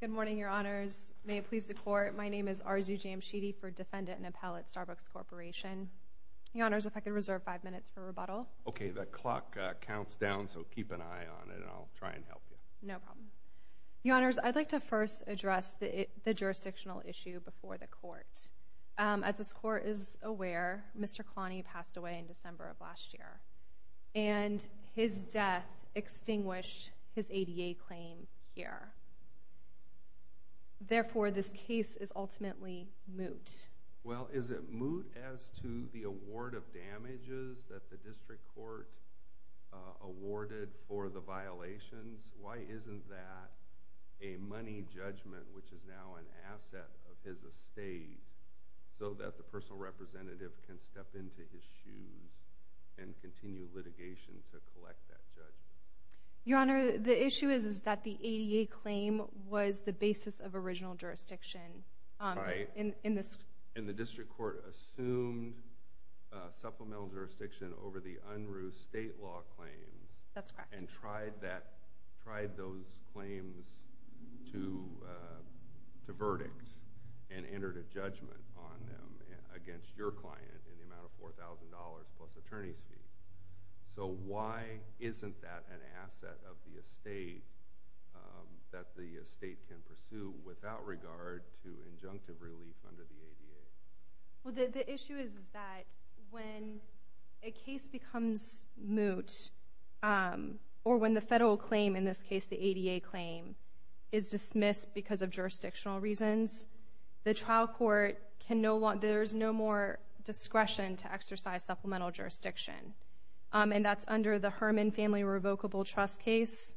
Good morning, Your Honors. May it please the Court, my name is Arzu Jamshidi for Defendant and Appellate, Starbucks Corporation. Your Honors, if I could reserve five minutes for rebuttal. Okay, the clock counts down, so keep an eye on it and I'll try and help you. Your Honors, I'd like to first address the jurisdictional issue before the Court. As this Court is aware, Mr. Kalani passed away in December of last year, and his death extinguished his ADA claim here. Therefore, this case is ultimately moot. Well, is it moot as to the award of damages that the District Court awarded for the violations? Why isn't that a money judgment, which is now an asset of his estate, so that the personal representative can step into his shoes and continue litigation to collect that judgment? Your Honor, the issue is that the ADA claim was the basis of original jurisdiction. Right. And the District Court assumed supplemental jurisdiction over the UNRU state law claims. That's correct. And tried those claims to verdict and entered a judgment on them against your client in the amount of $4,000 plus attorney's fee. So, why isn't that an asset of the estate that the estate can pursue without regard to injunctive relief under the ADA? Well, the issue is that when a case becomes moot, or when the federal claim, in this case the ADA claim, is dismissed because of jurisdictional reasons, the trial court can no longer, there's no more discretion to exercise supplemental jurisdiction. And that's under the Herman Family Revocable Trust case,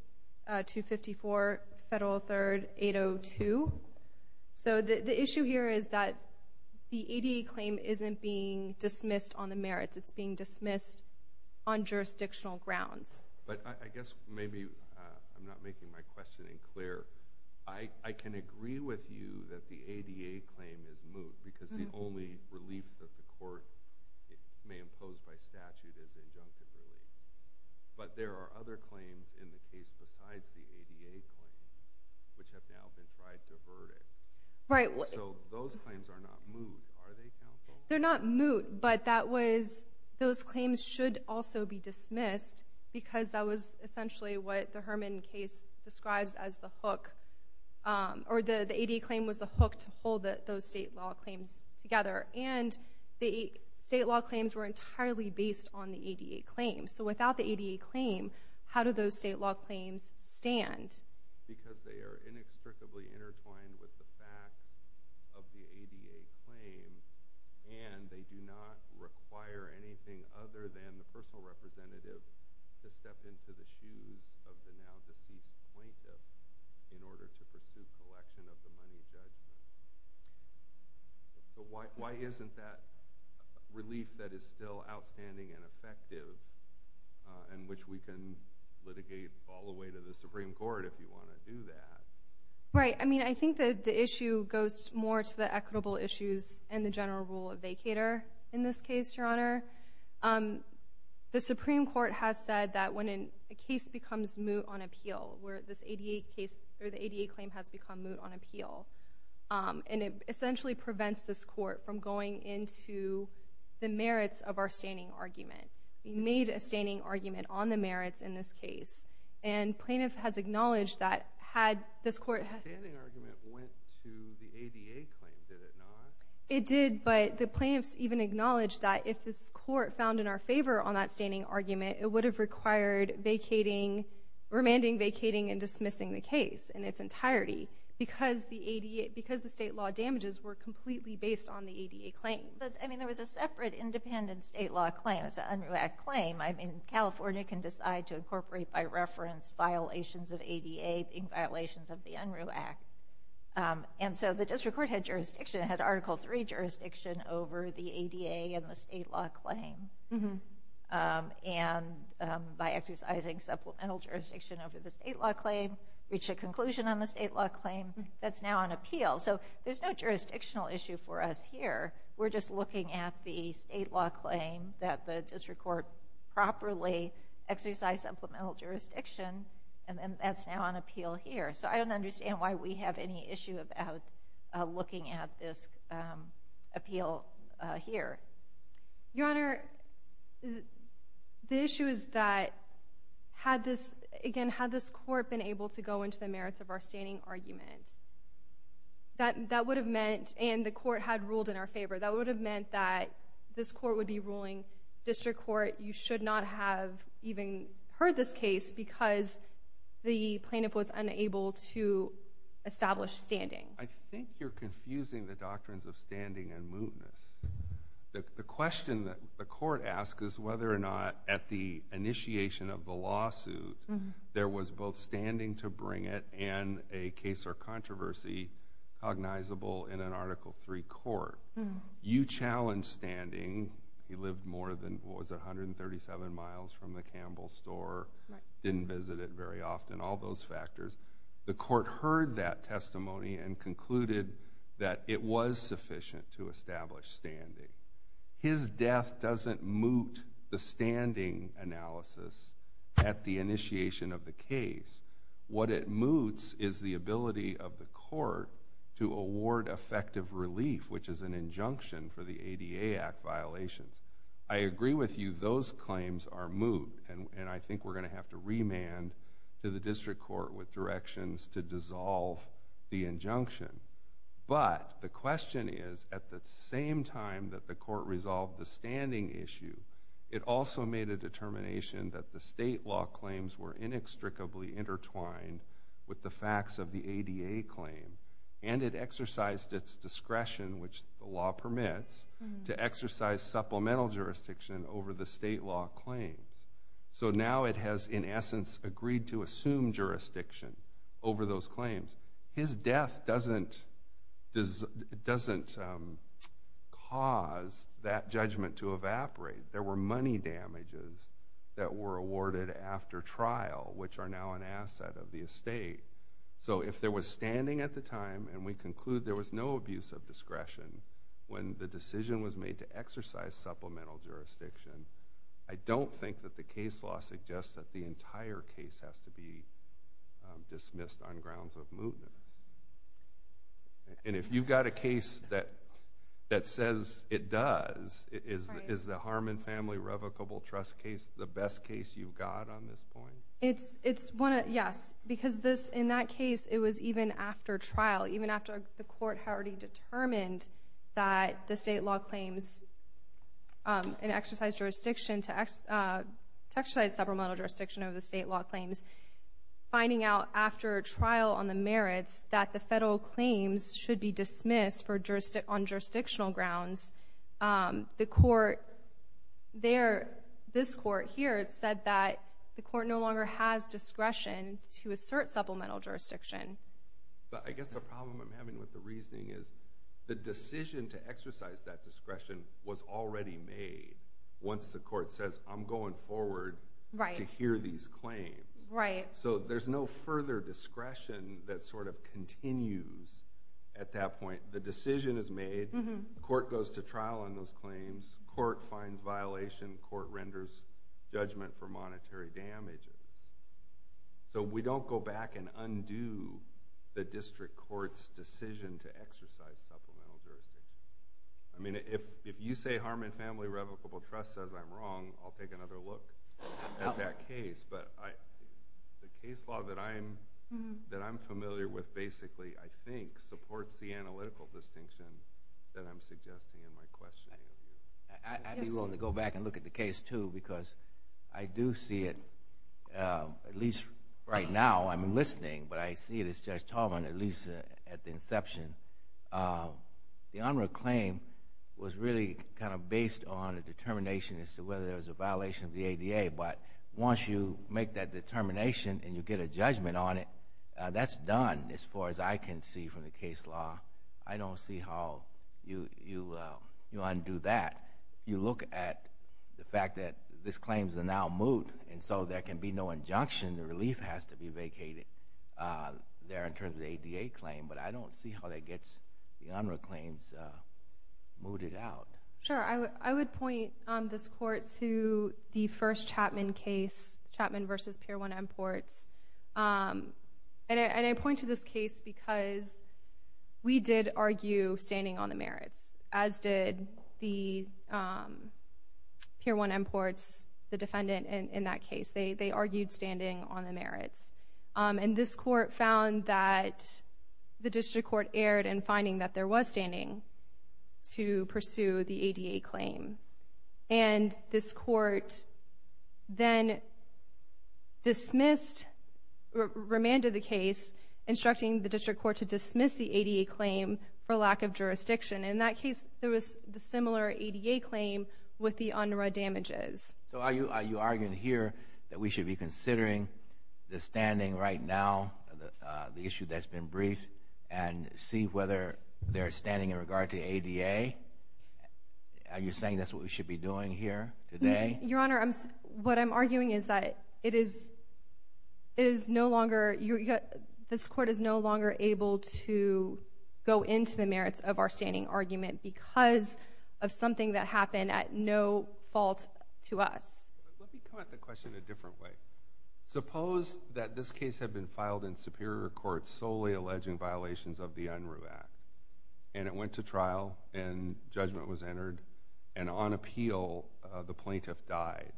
254 Federal 3rd 802. So, the issue here is that the ADA claim isn't being dismissed on the merits, it's being dismissed on jurisdictional grounds. But I guess maybe, I'm not making my questioning clear, I can agree with you that the ADA claim is moot, because the only relief that the court may impose by statute is injunctive relief. But there are other claims in the case besides the ADA claim, which have now been tried to verdict. Right. So, those claims are not moot, are they counsel? They're not moot, but that was, those claims should also be dismissed, because that was essentially what the Herman case describes as the hook, or the ADA claim was the hook to hold those state law claims together. And the state law claims were entirely based on the ADA claim. So, without the ADA claim, how do those state law claims stand? Because they are inextricably intertwined with the fact of the ADA claim, and they do not require anything other than the personal representative to step into the shoes of the now-deceased plaintiff in order to pursue collection of the money judgment. So, why isn't that relief that is still outstanding and effective, and which we can litigate all the way to the Supreme Court if you want to do that? Right. I mean, I think that the issue goes more to the equitable issues and the general rule of honor. The Supreme Court has said that when a case becomes moot on appeal, where this ADA case or the ADA claim has become moot on appeal, and it essentially prevents this court from going into the merits of our standing argument. We made a standing argument on the merits in this case, and plaintiff has acknowledged that had this court... The standing argument went to the ADA claim, did it not? It did, but the plaintiffs even acknowledged that if this court found in our favor on that standing argument, it would have required vacating, remanding vacating, and dismissing the case in its entirety because the state law damages were completely based on the ADA claim. But, I mean, there was a separate independent state law claim. It's an UNRU Act claim. I mean, California can decide to incorporate by reference violations of ADA in violations of UNRU Act. And so the district court had jurisdiction. It had Article III jurisdiction over the ADA and the state law claim. And by exercising supplemental jurisdiction over the state law claim, reached a conclusion on the state law claim, that's now on appeal. So there's no jurisdictional issue for us here. We're just looking at the state law claim that the district court properly exercised supplemental jurisdiction, and then that's now on appeal here. So I don't understand why we have any issue about looking at this appeal here. Your Honor, the issue is that had this, again, had this court been able to go into the merits of our standing argument, that would have meant, and the court had ruled in our favor, that would have meant that this court would be ruling district court, you should not have even heard this case because the plaintiff was unable to establish standing. I think you're confusing the doctrines of standing and mootness. The question that the court asked is whether or not at the initiation of the lawsuit, there was both standing to bring it and a case or controversy cognizable in an Article III court. You challenged standing. He lived more than, what was it, 137 miles from the Campbell store, didn't visit it very often, all those factors. The court heard that testimony and concluded that it was sufficient to establish standing. His death doesn't moot the standing analysis at the initiation of the case. What it moots is the ability of the court to award effective relief, which is an injunction for the ADA Act violations. I agree with you, those claims are moot, and I think we're going to have to remand to the district court with directions to dissolve the injunction. But the question is, at the same time that the court resolved the standing issue, it also made a determination that the state law claims were inextricably intertwined with the facts of the ADA claim, and it exercised its discretion, which the law permits, to exercise supplemental jurisdiction over the state law claims. So now it has, in essence, agreed to assume jurisdiction over those claims. His death doesn't cause that judgment to evaporate. There were money damages that were awarded after trial, which are now an asset of the estate. So if there was standing at the time, and we conclude there was no abuse of discretion when the decision was made to exercise supplemental jurisdiction, I don't think that the case law suggests that the entire case has to be dismissed on grounds of mootness. And if you've got a case that says it does, is the Harmon Family Revocable Trust case the best case you've got on this point? It's one of, yes, because this, in that case, it was even after trial, even after the court had already determined that the state law claims, and exercised jurisdiction to exercise supplemental jurisdiction over the state law claims, finding out after a trial on the merits that the federal claims should be dismissed on jurisdictional grounds, the court there, this court here, said that the court no longer has discretion to assert supplemental jurisdiction. But I guess the problem I'm having with the reasoning is the decision to exercise that discretion was already made once the court says, I'm going forward to hear these claims. Right. So there's no further discretion that sort of continues at that point. The decision is made, court goes to trial on those claims, court finds violation, court renders judgment for monetary damages. So we don't go back and undo the district court's decision to exercise supplemental jurisdiction. I mean, if you say Harmon Family Revocable Trust says I'm wrong, I'll take another look at that case. But the case law that I'm familiar with, basically, I think, supports the analytical distinction that I'm suggesting in my questioning of you. I'd be willing to go back and look at the case, too, because I do see it, at least right now, I'm listening, but I see it as Judge Taubman, at least at the inception. The Honor of Claim was really kind of based on a determination as to whether there was a violation of the ADA. But once you make that determination and you get a judgment on it, that's done, as far as I can see from the case law. I don't see how you undo that. You look at the fact that these claims are now moot, and so there can be no injunction, the relief has to be vacated there in terms of the ADA claim. But I don't see how that gets the Honor of Claims mooted out. Sure, I would point this Court to the first Chapman case, Chapman v. Pier 1 Imports. And I point to this case because we did argue standing on the merits, as did the Pier 1 Imports, the defendant in that case. They argued standing on the merits. And this Court found that the District Court erred in finding that there was standing to pursue the ADA claim. And this Court then dismissed, remanded the case, instructing the District Court to dismiss the ADA claim for lack of jurisdiction. In that case, there was the similar ADA claim with the UNRWA damages. So are you arguing here that we should be considering the standing right now, the issue that's been briefed, and see whether there's standing in regard to ADA? Are you saying that's what we should be doing here today? Your Honor, what I'm arguing is that it is no longer, this Court is no longer able to go into the merits of our standing argument because of something that happened at no fault to us. But let me come at the question a different way. Suppose that this case had been filed in Superior Court solely alleging violations of the UNRWA Act, and it went to trial and judgment was entered, and on appeal, the plaintiff died.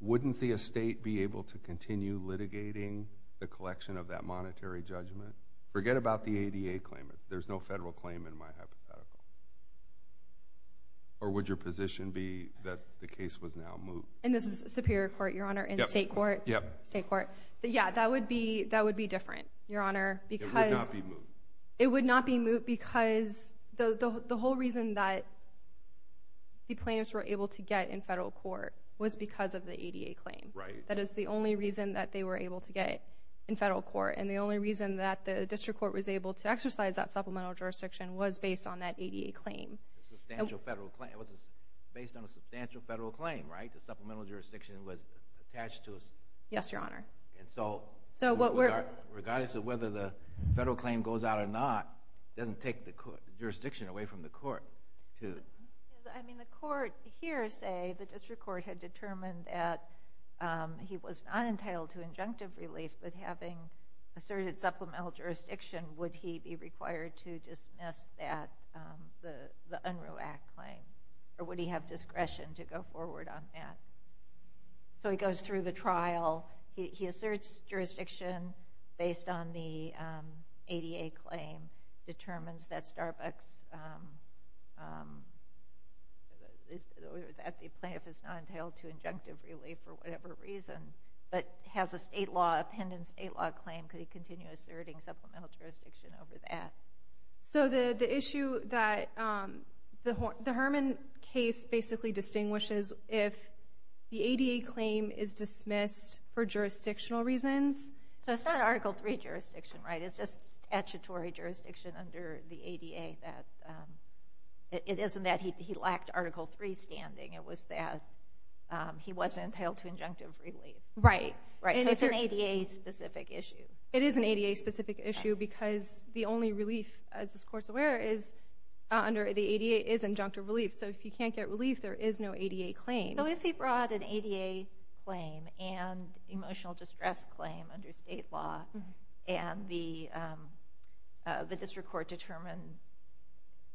Wouldn't the estate be able to continue litigating the collection of that monetary judgment? Forget about the ADA claim. There's no federal claim in my hypothetical. Or would your position be that the case was now moved? And this is Superior Court, Your Honor, and State Court. Yeah, that would be different, Your Honor. It would not be moved. It would not be moved because the whole reason that the plaintiffs were able to get in federal court was because of the ADA claim. That is the only reason that they were able to get in federal court, and the only reason that the District Court was able to exercise that supplemental jurisdiction was based on that ADA claim. Based on a substantial federal claim, the supplemental jurisdiction was attached to us. Yes, Your Honor. And so, regardless of whether the federal claim goes out or not, it doesn't take the jurisdiction away from the court. I mean, the court hearsay, the District Court had determined that he was not entitled to injunctive relief, but having asserted supplemental jurisdiction, would he be required to dismiss that, the Unruh Act claim? Or would he have discretion to go forward on that? So, he goes through the trial. He asserts jurisdiction based on the ADA claim, determines that Starbucks, that the plaintiff is not entitled to injunctive relief for whatever reason, but has a state law, a pending state law claim. Could he continue asserting supplemental jurisdiction over that? So, the issue that, the Herman case basically distinguishes if the ADA claim is dismissed for jurisdictional reasons. So, it's not Article III jurisdiction, right? It's just statutory jurisdiction under the ADA that, it isn't that he lacked Article III standing. It was that he wasn't entitled to injunctive relief. Right. So, it's an ADA specific issue. It is an ADA specific issue because the only relief, as this Court's aware, is under the ADA, is injunctive relief. So, if he can't get relief, there is no ADA claim. So, if he brought an ADA claim and emotional distress claim under state law, and the District Court determined,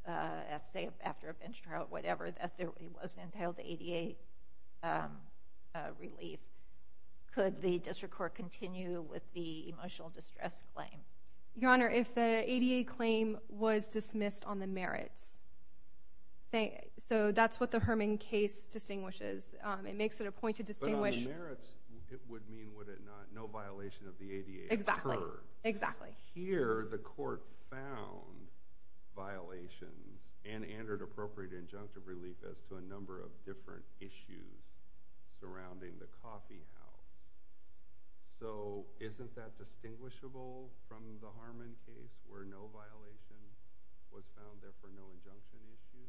at say, after a bench trial, whatever, that he wasn't entitled to ADA relief, could the District Court continue with the emotional distress claim? Your Honor, if the ADA claim was dismissed on the merits, so that's what the Herman case distinguishes. It makes it a point to distinguish. But on the merits, it would mean, would it not, no violation of the ADA occurred. Exactly. Here, the Court found violations and entered appropriate injunctive relief as to a number of different issues surrounding the coffee house. So, isn't that distinguishable from the Herman case, where no violation was found, therefore no injunction issue?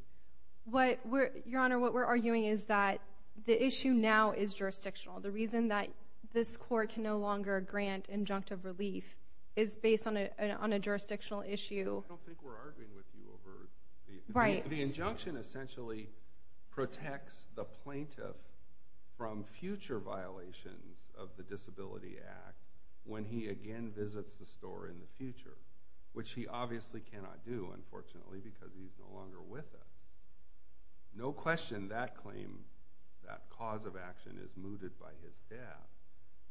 What we're, Your Honor, what we're arguing is that the issue now is jurisdictional. The reason that this Court can no longer grant injunctive relief is based on a jurisdictional issue. I don't think we're arguing with you over... The injunction essentially protects the plaintiff from future violations of the Disability Act when he again visits the store in the future, which he obviously cannot do, unfortunately, because he's no longer with it. No question that claim, that cause of action is mooted by his death,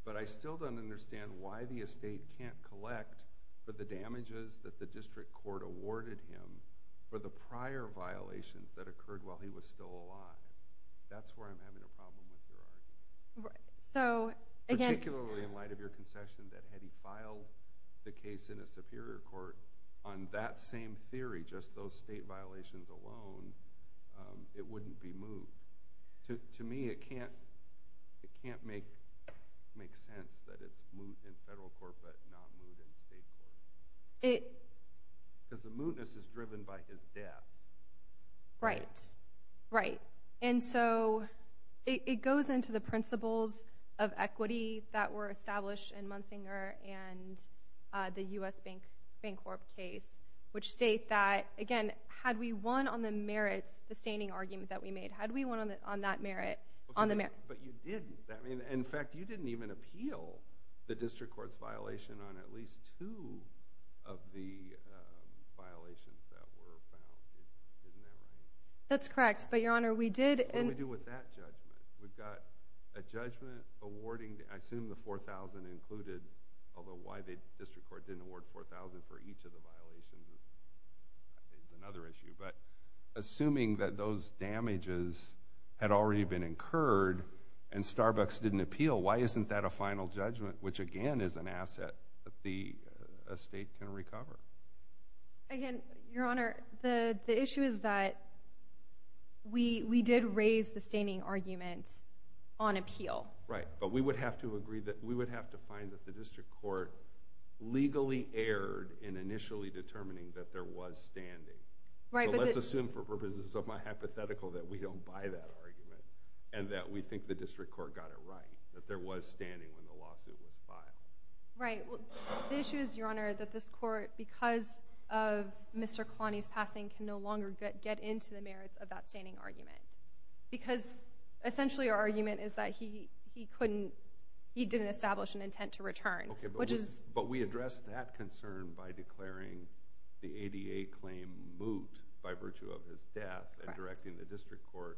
but I still don't understand why the estate can't collect for the prior violations that occurred while he was still alive. That's where I'm having a problem with your argument. Particularly in light of your concession that had he filed the case in a superior court on that same theory, just those state violations alone, it wouldn't be moved. To me, it can't make sense that it's moot in federal court, but not moot in state court. It... Because the mootness is driven by his death. Right. Right. And so, it goes into the principles of equity that were established in Munsinger and the U.S. Bank Corp case, which state that, again, had we won on the merits, the staining argument that we made, had we won on that merit... But you didn't. In fact, you didn't even appeal the district court's violation on at least two of the violations that were found. Isn't that right? That's correct, but, Your Honor, we did... What do we do with that judgment? We've got a judgment awarding... I assume the 4,000 included, although why the district court didn't award 4,000 for each of the violations is another issue, but assuming that those damages had already been incurred and Starbucks didn't appeal, why isn't that a final judgment, which, again, is an asset that the state can recover? Again, Your Honor, the issue is that we did raise the staining argument on appeal. Right, but we would have to agree that... We would have to find that the district court legally erred in initially determining that there was standing. So let's assume for purposes of my hypothetical that we don't buy that argument and that we think the district court got it right, that there was standing when the lawsuit was filed. Right. The issue is, Your Honor, that this court, because of Mr. Kalani's passing, can no longer get into the merits of that staining argument because, essentially, our argument is that he didn't establish an intent to return, which is... Okay, but we addressed that concern by declaring the ADA claim moot by virtue of his death and directing the district court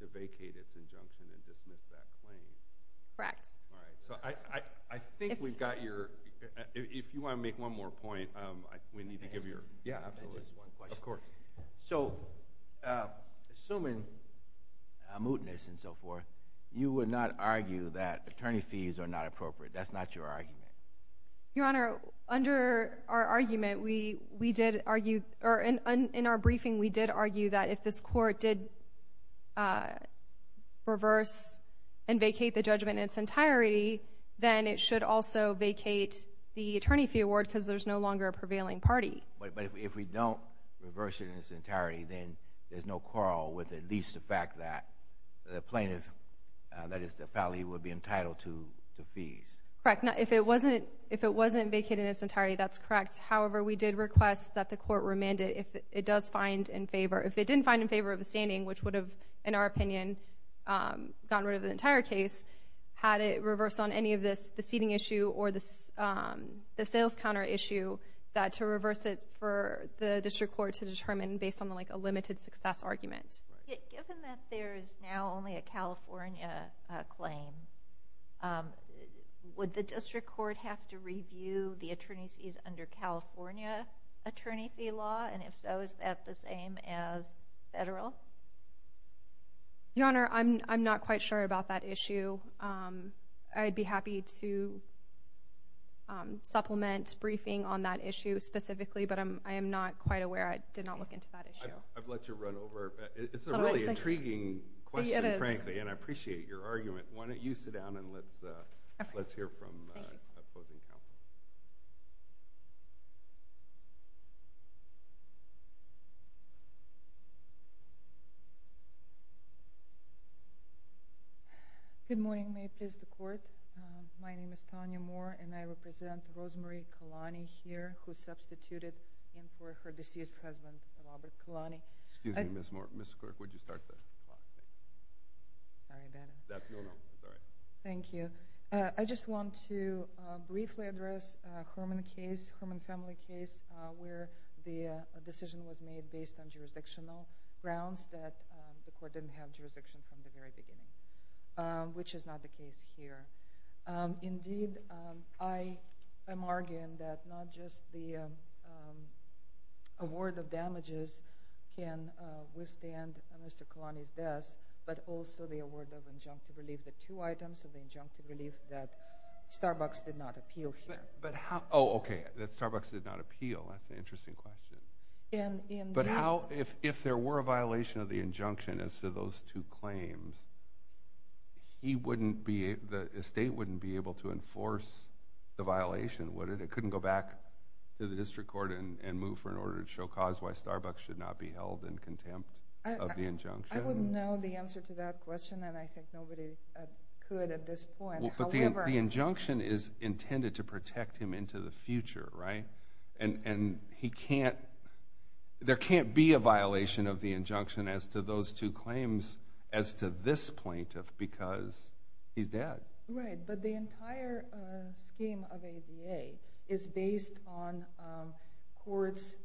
to vacate its injunction and dismiss that claim. Correct. All right, so I think we've got your... If you want to make one more point, we need to give your... Yeah, absolutely. Just one question. Of course. So, assuming mootness and so forth, you would not argue that attorney fees are not appropriate. That's not your argument. Your Honor, under our argument, we did argue, or in our briefing, we did argue that if this court did reverse and vacate the judgment in its entirety, then it should also vacate the attorney fee award because there's no longer a prevailing party. But if we don't reverse it in its entirety, then there's no quarrel with at least the fact that the plaintiff, that is, the felony, would be entitled to fees. Correct. Now, if it wasn't vacated in its entirety, that's correct. However, we did request that the court remand it if it does find in favor... If it didn't find in favor of the staining, which would have, in our opinion, gotten rid of the entire case, had it reversed on any of the seating issue or the sales counter issue, that to reverse it the district court to determine based on a limited success argument. Given that there is now only a California claim, would the district court have to review the attorney's fees under California attorney fee law? And if so, is that the same as federal? Your Honor, I'm not quite sure about that I am not quite aware. I did not look into that issue. I've let you run over. It's a really intriguing question, frankly, and I appreciate your argument. Why don't you sit down and let's hear from the opposing counsel. Good morning. May it please the court. My name is Tanya Moore, and I represent Rosemarie Kalani here, who substituted in for her deceased husband, Robert Kalani. Excuse me, Ms. Moore. Mr. Clerk, would you start the clock? Thank you. I just want to briefly address the Herman family case, where the decision was made based on jurisdictional grounds that the court didn't have jurisdiction from the very beginning, which is not the case here. Indeed, I am arguing that not just the award of damages can withstand Mr. Kalani's death, but also the award of injunctive relief, the two items of the injunctive relief that Starbucks did not appeal here. Oh, okay, that Starbucks did not appeal. That's an interesting question. But if there were a violation of the injunction as to those two claims, he wouldn't be, the estate wouldn't be able to enforce the violation, would it? It couldn't go back to the district court and move for an order to show cause why Starbucks should not be held in contempt of the injunction. I wouldn't know the answer to that question, and I think nobody could at this point. But the injunction is intended to protect him into the future, right? And he can't, there can't be a violation of the injunction as to those two claims as to this plaintiff because he's dead. Right, but the entire scheme of ADA is based on courts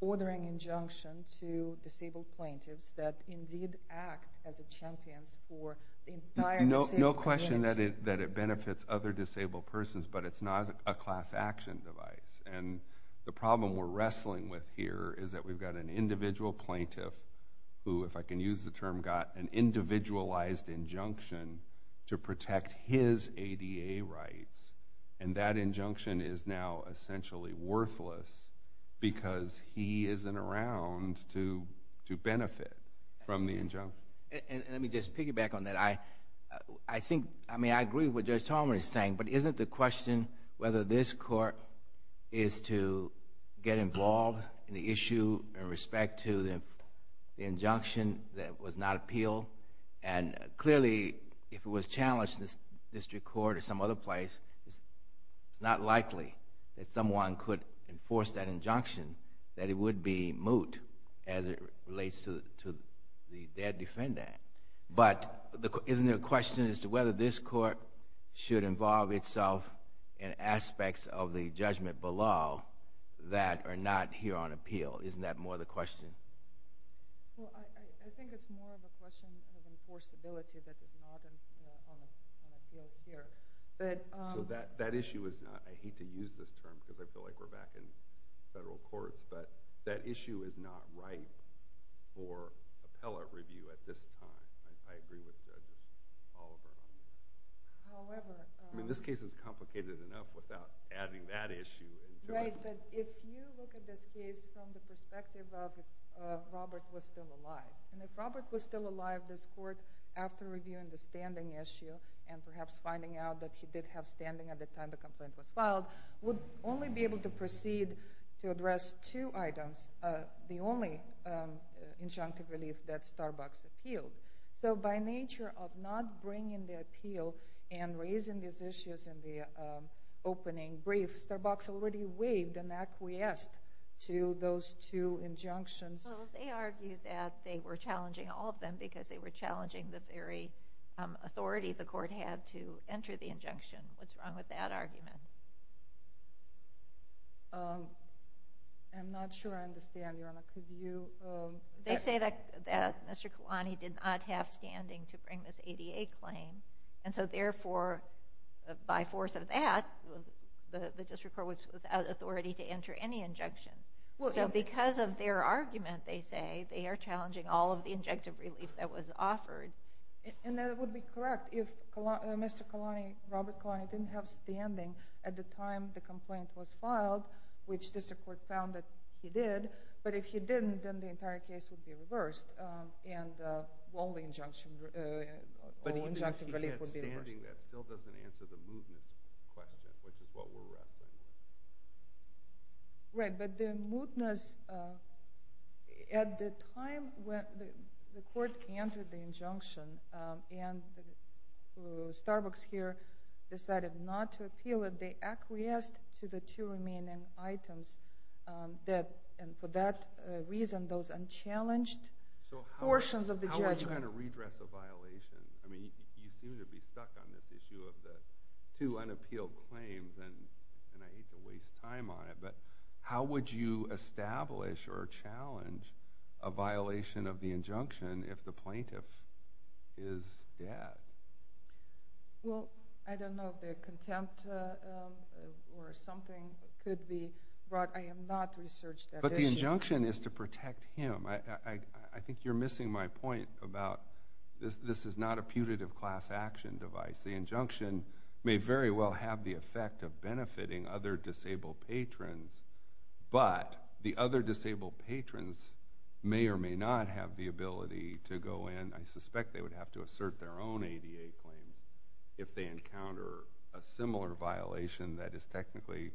ordering injunction to disabled plaintiffs that indeed act as a champions for the entire disabled community. No question that it benefits other disabled persons, but it's not a class action device. And the problem we're wrestling with here is that we've got an individual plaintiff who, if I can use the term, got an individualized injunction to protect his ADA rights, and that injunction is now essentially worthless because he isn't around to benefit from the injunction. And let me just piggyback on that. I think, I mean, I agree with what Judge Talmadge is saying, but isn't the question whether this court is to get involved in the issue in respect to the injunction that was not appealed? And clearly, if it was challenged in the district court or some other place, it's not likely that someone could enforce that injunction, that it would be moot as it relates to the dead defendant. But isn't there a question as to whether this court should involve itself in aspects of the judgment below that are not here on appeal? Isn't that more the question? Well, I think it's more of a question of enforceability that is not on appeal here. So that issue is not, I hate to use this term because I feel like we're back in federal courts, but that issue is not ripe for appellate review at this time. I agree with Judge Oliver on that. However... I mean, this case is complicated enough without adding that Right, but if you look at this case from the perspective of if Robert was still alive, and if Robert was still alive, this court, after reviewing the standing issue and perhaps finding out that he did have standing at the time the complaint was filed, would only be able to proceed to address two items, the only injunctive relief that Starbucks appealed. So by nature of not bringing the appeal and raising these issues in the opening brief, Starbucks already waived and acquiesced to those two injunctions. Well, they argued that they were challenging all of them because they were challenging the very authority the court had to enter the injunction. What's wrong with that argument? I'm not sure I understand, Your Honor. Could you... They say that Mr. Kalani did not have standing to bring this ADA claim, and so therefore, by force of that, the district court was without authority to enter any injunction. So because of their argument, they say, they are challenging all of the injunctive relief that was offered. And that would be correct if Mr. Kalani, Robert Kalani, didn't have standing at the time the complaint was filed, which district court found that he did, but if he didn't, then the case would be reversed, and all the injunctive relief would be reversed. But even if he had standing, that still doesn't answer the mootness question, which is what we're wrestling with. Right, but the mootness... At the time when the court entered the injunction, and Starbucks here decided not to appeal it, they acquiesced to the two remaining items that, and for that reason, those unchallenged portions of the judgment... So how are you going to redress a violation? I mean, you seem to be stuck on this issue of the two unappealed claims, and I hate to waste time on it, but how would you establish or challenge a violation of the injunction if the plaintiff is dead? Well, I don't know if the contempt or something could be brought. I have not researched that issue. But the injunction is to protect him. I think you're missing my point about this is not a putative class action device. The injunction may very well have the effect of benefiting other disabled patrons, but the other disabled patrons may or may not have the ability to go in. I suspect they would have to assert their own ADA claims if they encounter a similar violation that is technically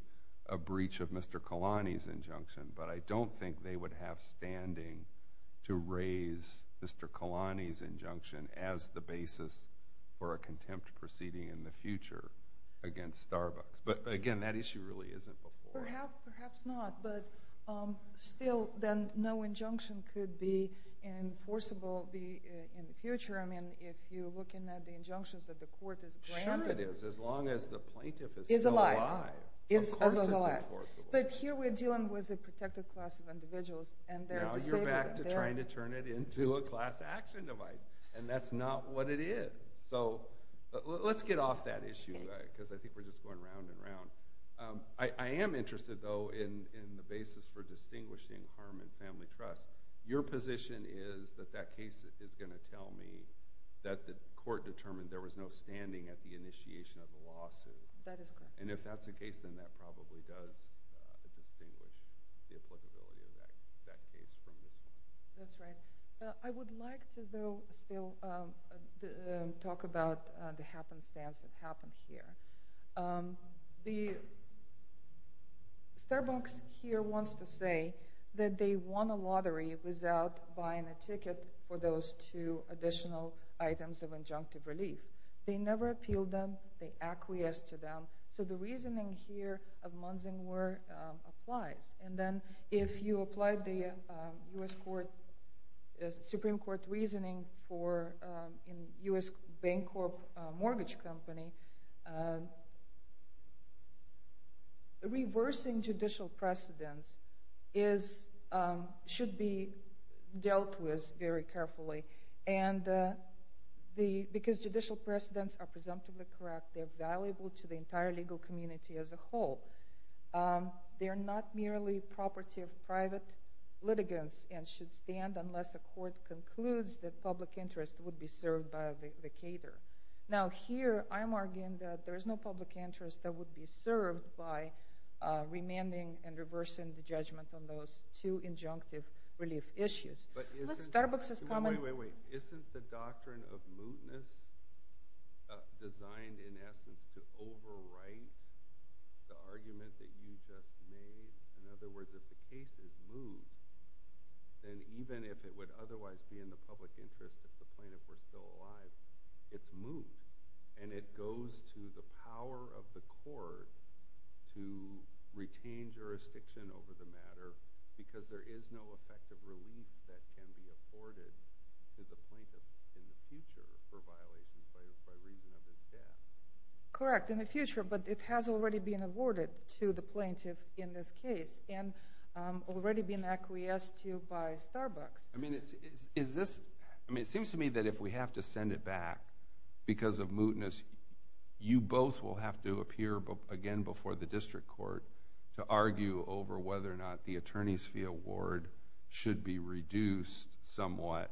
a breach of Mr. Kalani's injunction, but I don't think they would have standing to raise Mr. Kalani's injunction as the basis for a contempt proceeding in the future against Starbucks. But again, that issue really isn't before. Perhaps not, but still, then no injunction could be enforceable in the future. I mean, if you're looking at the injunctions that the court has granted. Sure it is, as long as the plaintiff is still alive. Is alive. Of course it's enforceable. But here we're dealing with a protected class of individuals, and they're disabled. Now you're back to trying to turn it into a class action device, and that's not what it is. So, let's get off that issue, because I think we're just going round and round. I am interested, though, in the basis for distinguishing harm and family trust. Your position is that that case is going to tell me that the court determined there was no standing at the initiation of the lawsuit. That is correct. And if that's the case, then that probably does distinguish the applicability of that case from this one. That's right. I would like to, though, still talk about the happenstance that happened here. Um, the Starbucks here wants to say that they won a lottery without buying a ticket for those two additional items of injunctive relief. They never appealed them. They acquiesced to them. So the reasoning here of Munzinger applies. And then if you applied the U.S. Supreme Court reasoning for, in U.S. Bancorp mortgage company, um, reversing judicial precedents is, um, should be dealt with very carefully. And, uh, the, because judicial precedents are presumptively correct, they're valuable to the entire legal community as a whole. Um, they're not merely property of private litigants and should stand unless a court concludes that public interest would be served by a vacator. Now here, I'm arguing that there is no public interest that would be served by, uh, remanding and reversing the judgment on those two injunctive relief issues. But isn't— Starbucks is common— Wait, wait, wait. Isn't the doctrine of mootness designed, in essence, to overwrite the argument that you just made? In other words, if the case is moved, then even if it would otherwise be in the public interest if the plaintiff were still alive, it's moved. And it goes to the power of the court to retain jurisdiction over the matter because there is no effective relief that can be afforded to the plaintiff in the future for violations by reason of his death. Correct, in the future, but it has already been awarded to the plaintiff in this case and, um, already been acquiesced to by Starbucks. I mean, is this—I mean, it seems to me that if we have to send it back because of mootness, you both will have to appear again before the district court to argue over whether or not the attorney's fee award should be reduced somewhat,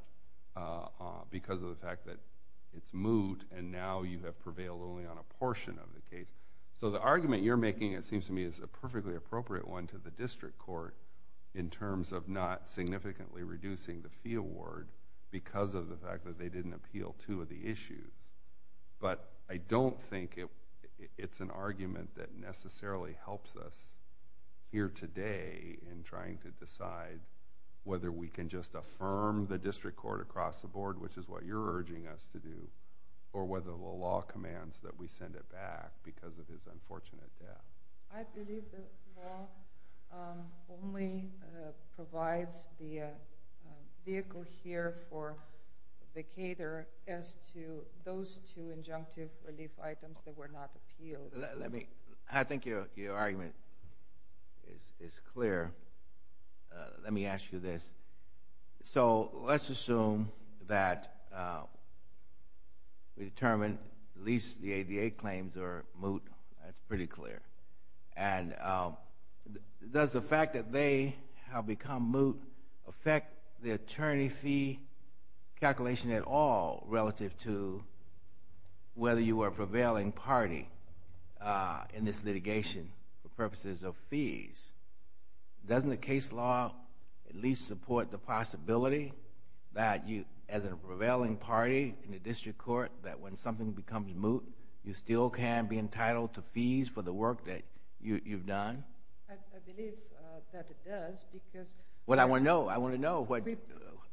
uh, because of the fact that it's moot and now you have prevailed only on a portion of the case. So the argument you're making, it seems to me, is a perfectly appropriate one to the district court in terms of not significantly reducing the fee award because of the fact that they didn't appeal two of the issues. But I don't think it—it's an argument that necessarily helps us here today in trying to decide whether we can just affirm the district court across the board, which is what you're urging us to do, or whether the law commands that we send it back because of his unfortunate death. I believe the law, um, only, uh, provides the vehicle here for the caterer as to those two injunctive relief items that were not appealed. Let me—I think your argument is clear. Let me ask you this. So let's assume that, uh, we determined at least the ADA claims are moot. That's pretty clear. And, um, does the fact that they have become moot affect the attorney fee calculation at all relative to whether you are a prevailing party, uh, in this litigation for purposes of fees? Doesn't the case law at least support the possibility that you, as a prevailing party in the district court, that when something becomes moot, you still can be entitled to fees for the work that you—you've done? I—I believe, uh, that it does because— What I want to know—I want to know what,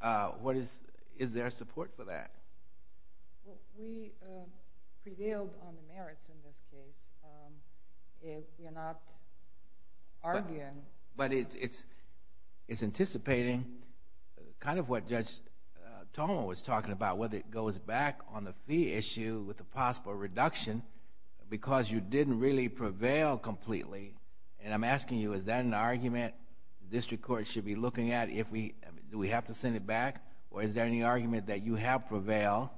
uh, what is—is there support for that? Well, we, uh, prevailed on the merits in this case. Um, if you're not arguing— But it's—it's anticipating kind of what Judge, uh, Toma was talking about, whether it goes back on the fee issue with a possible reduction because you didn't really prevail completely. And I'm asking you, is that an argument the district court should be looking at if we—do we have to send it back? Or is there any argument that you have prevailed?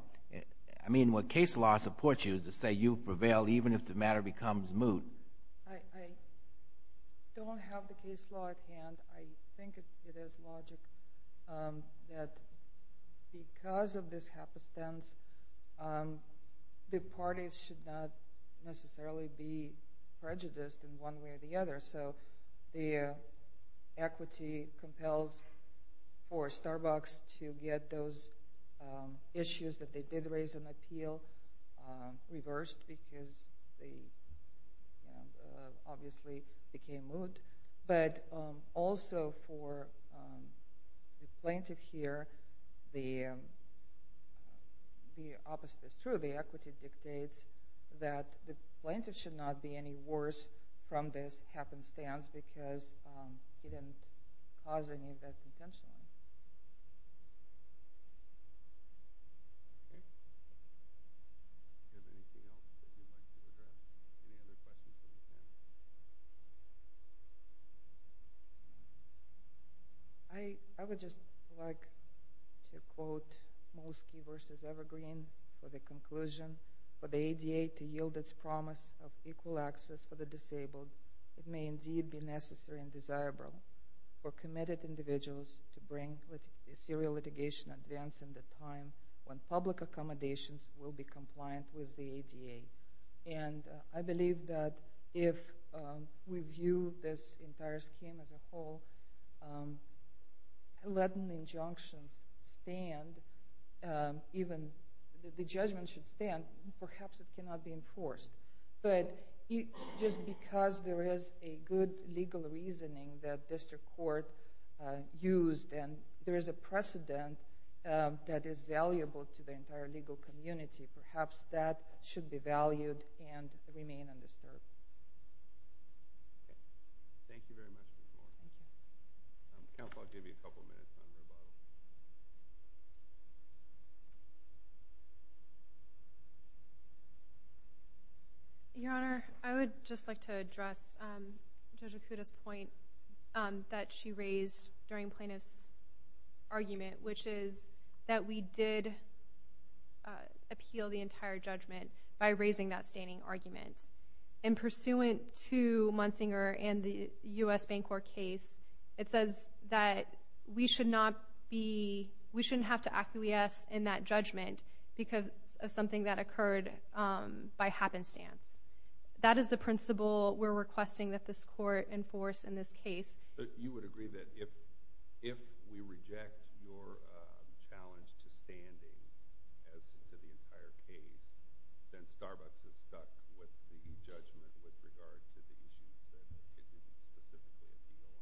I mean, what case law supports you to say you prevailed even if the matter becomes moot? I—I don't have the case law at hand. I think it is logic, um, that because of this happenstance, um, the parties should not necessarily be prejudiced in one way or the other. So the equity compels for Starbucks to get those, um, issues that they did raise in appeal, um, reversed because they, you know, uh, obviously became moot. But, um, also for, um, the plaintiff here, the, um, the opposite is true. The equity dictates that the plaintiff should not be any worse from this happenstance because, um, he didn't cause any of that intentionally. Okay. Do you have anything else that you'd like to address? Any other questions from the panel? I—I would just like to quote Molsky versus Evergreen for the conclusion. For the ADA to yield its promise of equal access for the disabled, it may indeed be necessary and to bring serial litigation advance in the time when public accommodations will be compliant with the ADA. And I believe that if, um, we view this entire scheme as a whole, um, letting the injunctions stand, um, even the judgment should stand, perhaps it cannot be enforced. But just because there is a good legal reasoning that district court, uh, used and there is a precedent, um, that is valuable to the entire legal community, perhaps that should be valued and remain undisturbed. Okay. Thank you very much, Ms. Moore. Thank you. Um, counsel, I'll give you a couple to address, um, Judge Okuda's point, um, that she raised during plaintiff's argument, which is that we did, uh, appeal the entire judgment by raising that standing argument. And pursuant to Munsinger and the U.S. Bancorp case, it says that we should not be—we shouldn't have to acquiesce in that that this court enforce in this case. But you would agree that if—if we reject your, um, challenge to standing as to the entire case, then Starbucks is stuck with the judgment with regard to the issues that it didn't specifically appeal on?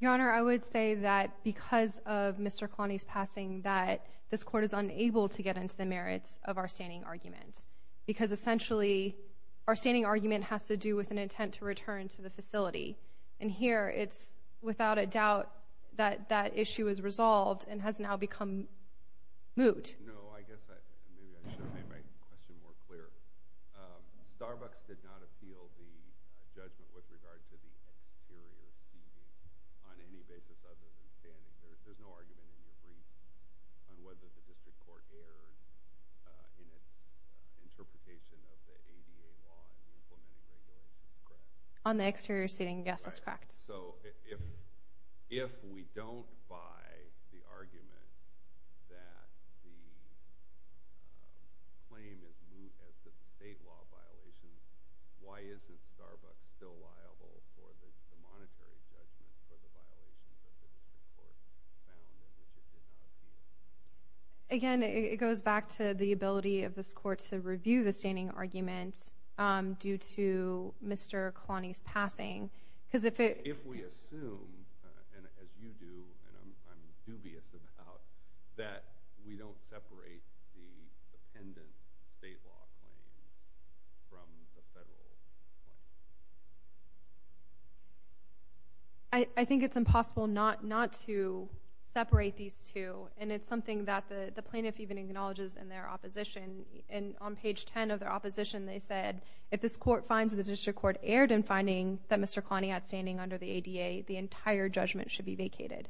Your Honor, I would say that because of Mr. Kalani's passing that this court is unable to get into the merits of our standing argument. Because essentially, our standing argument has to do with an intent to return to the facility. And here, it's without a doubt that that issue is resolved and has now become moot. No, I guess I—maybe I should have made my question more clear. Um, Starbucks did not appeal the judgment with regard to the exterior seating on any basis other than standing. There's no argument in your interpretation of the ADA law in the implementing regulations, correct? On the exterior seating, yes, that's correct. So if—if we don't buy the argument that the claim is moot as to the state law violations, why isn't Starbucks still liable for the monetary judgment for the violations that the district court found in which it did not appeal? Again, it goes back to the ability of this court to review the standing argument due to Mr. Kalani's passing. Because if it— If we assume, and as you do, and I'm dubious about, that we don't separate the separate these two, and it's something that the plaintiff even acknowledges in their opposition. And on page 10 of their opposition, they said, if this court finds that the district court erred in finding that Mr. Kalani outstanding under the ADA, the entire judgment should be vacated.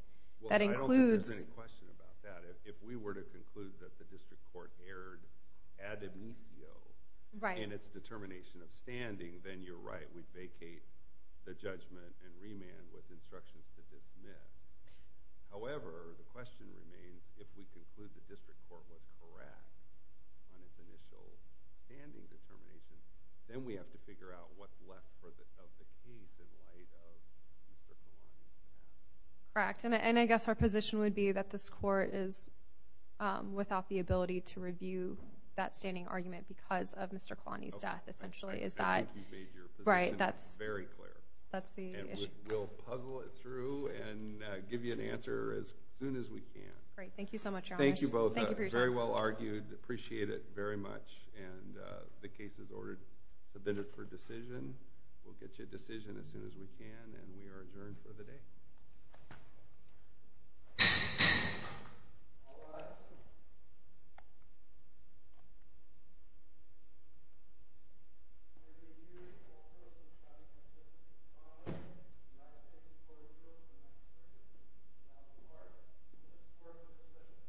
That includes— Well, I don't think there's any question about that. If we were to conclude that the district court erred ad amicio in its determination of standing, then you're right. We'd vacate the judgment and remand with instructions to dismiss. However, the question remains, if we conclude the district court was correct on its initial standing determination, then we have to figure out what's left of the case in light of Mr. Kalani's death. Correct. And I guess our position would be that this court is without the ability to review that standing argument because of Mr. Kalani's death, essentially. Is that— I think you've made your position very clear. We'll puzzle it through and give you an answer as soon as we can. Great. Thank you so much, Your Honor. Thank you both. Very well argued. Appreciate it very much. And the case is ordered, submitted for decision. We'll get you a decision as soon as we can, and we are adjourned for the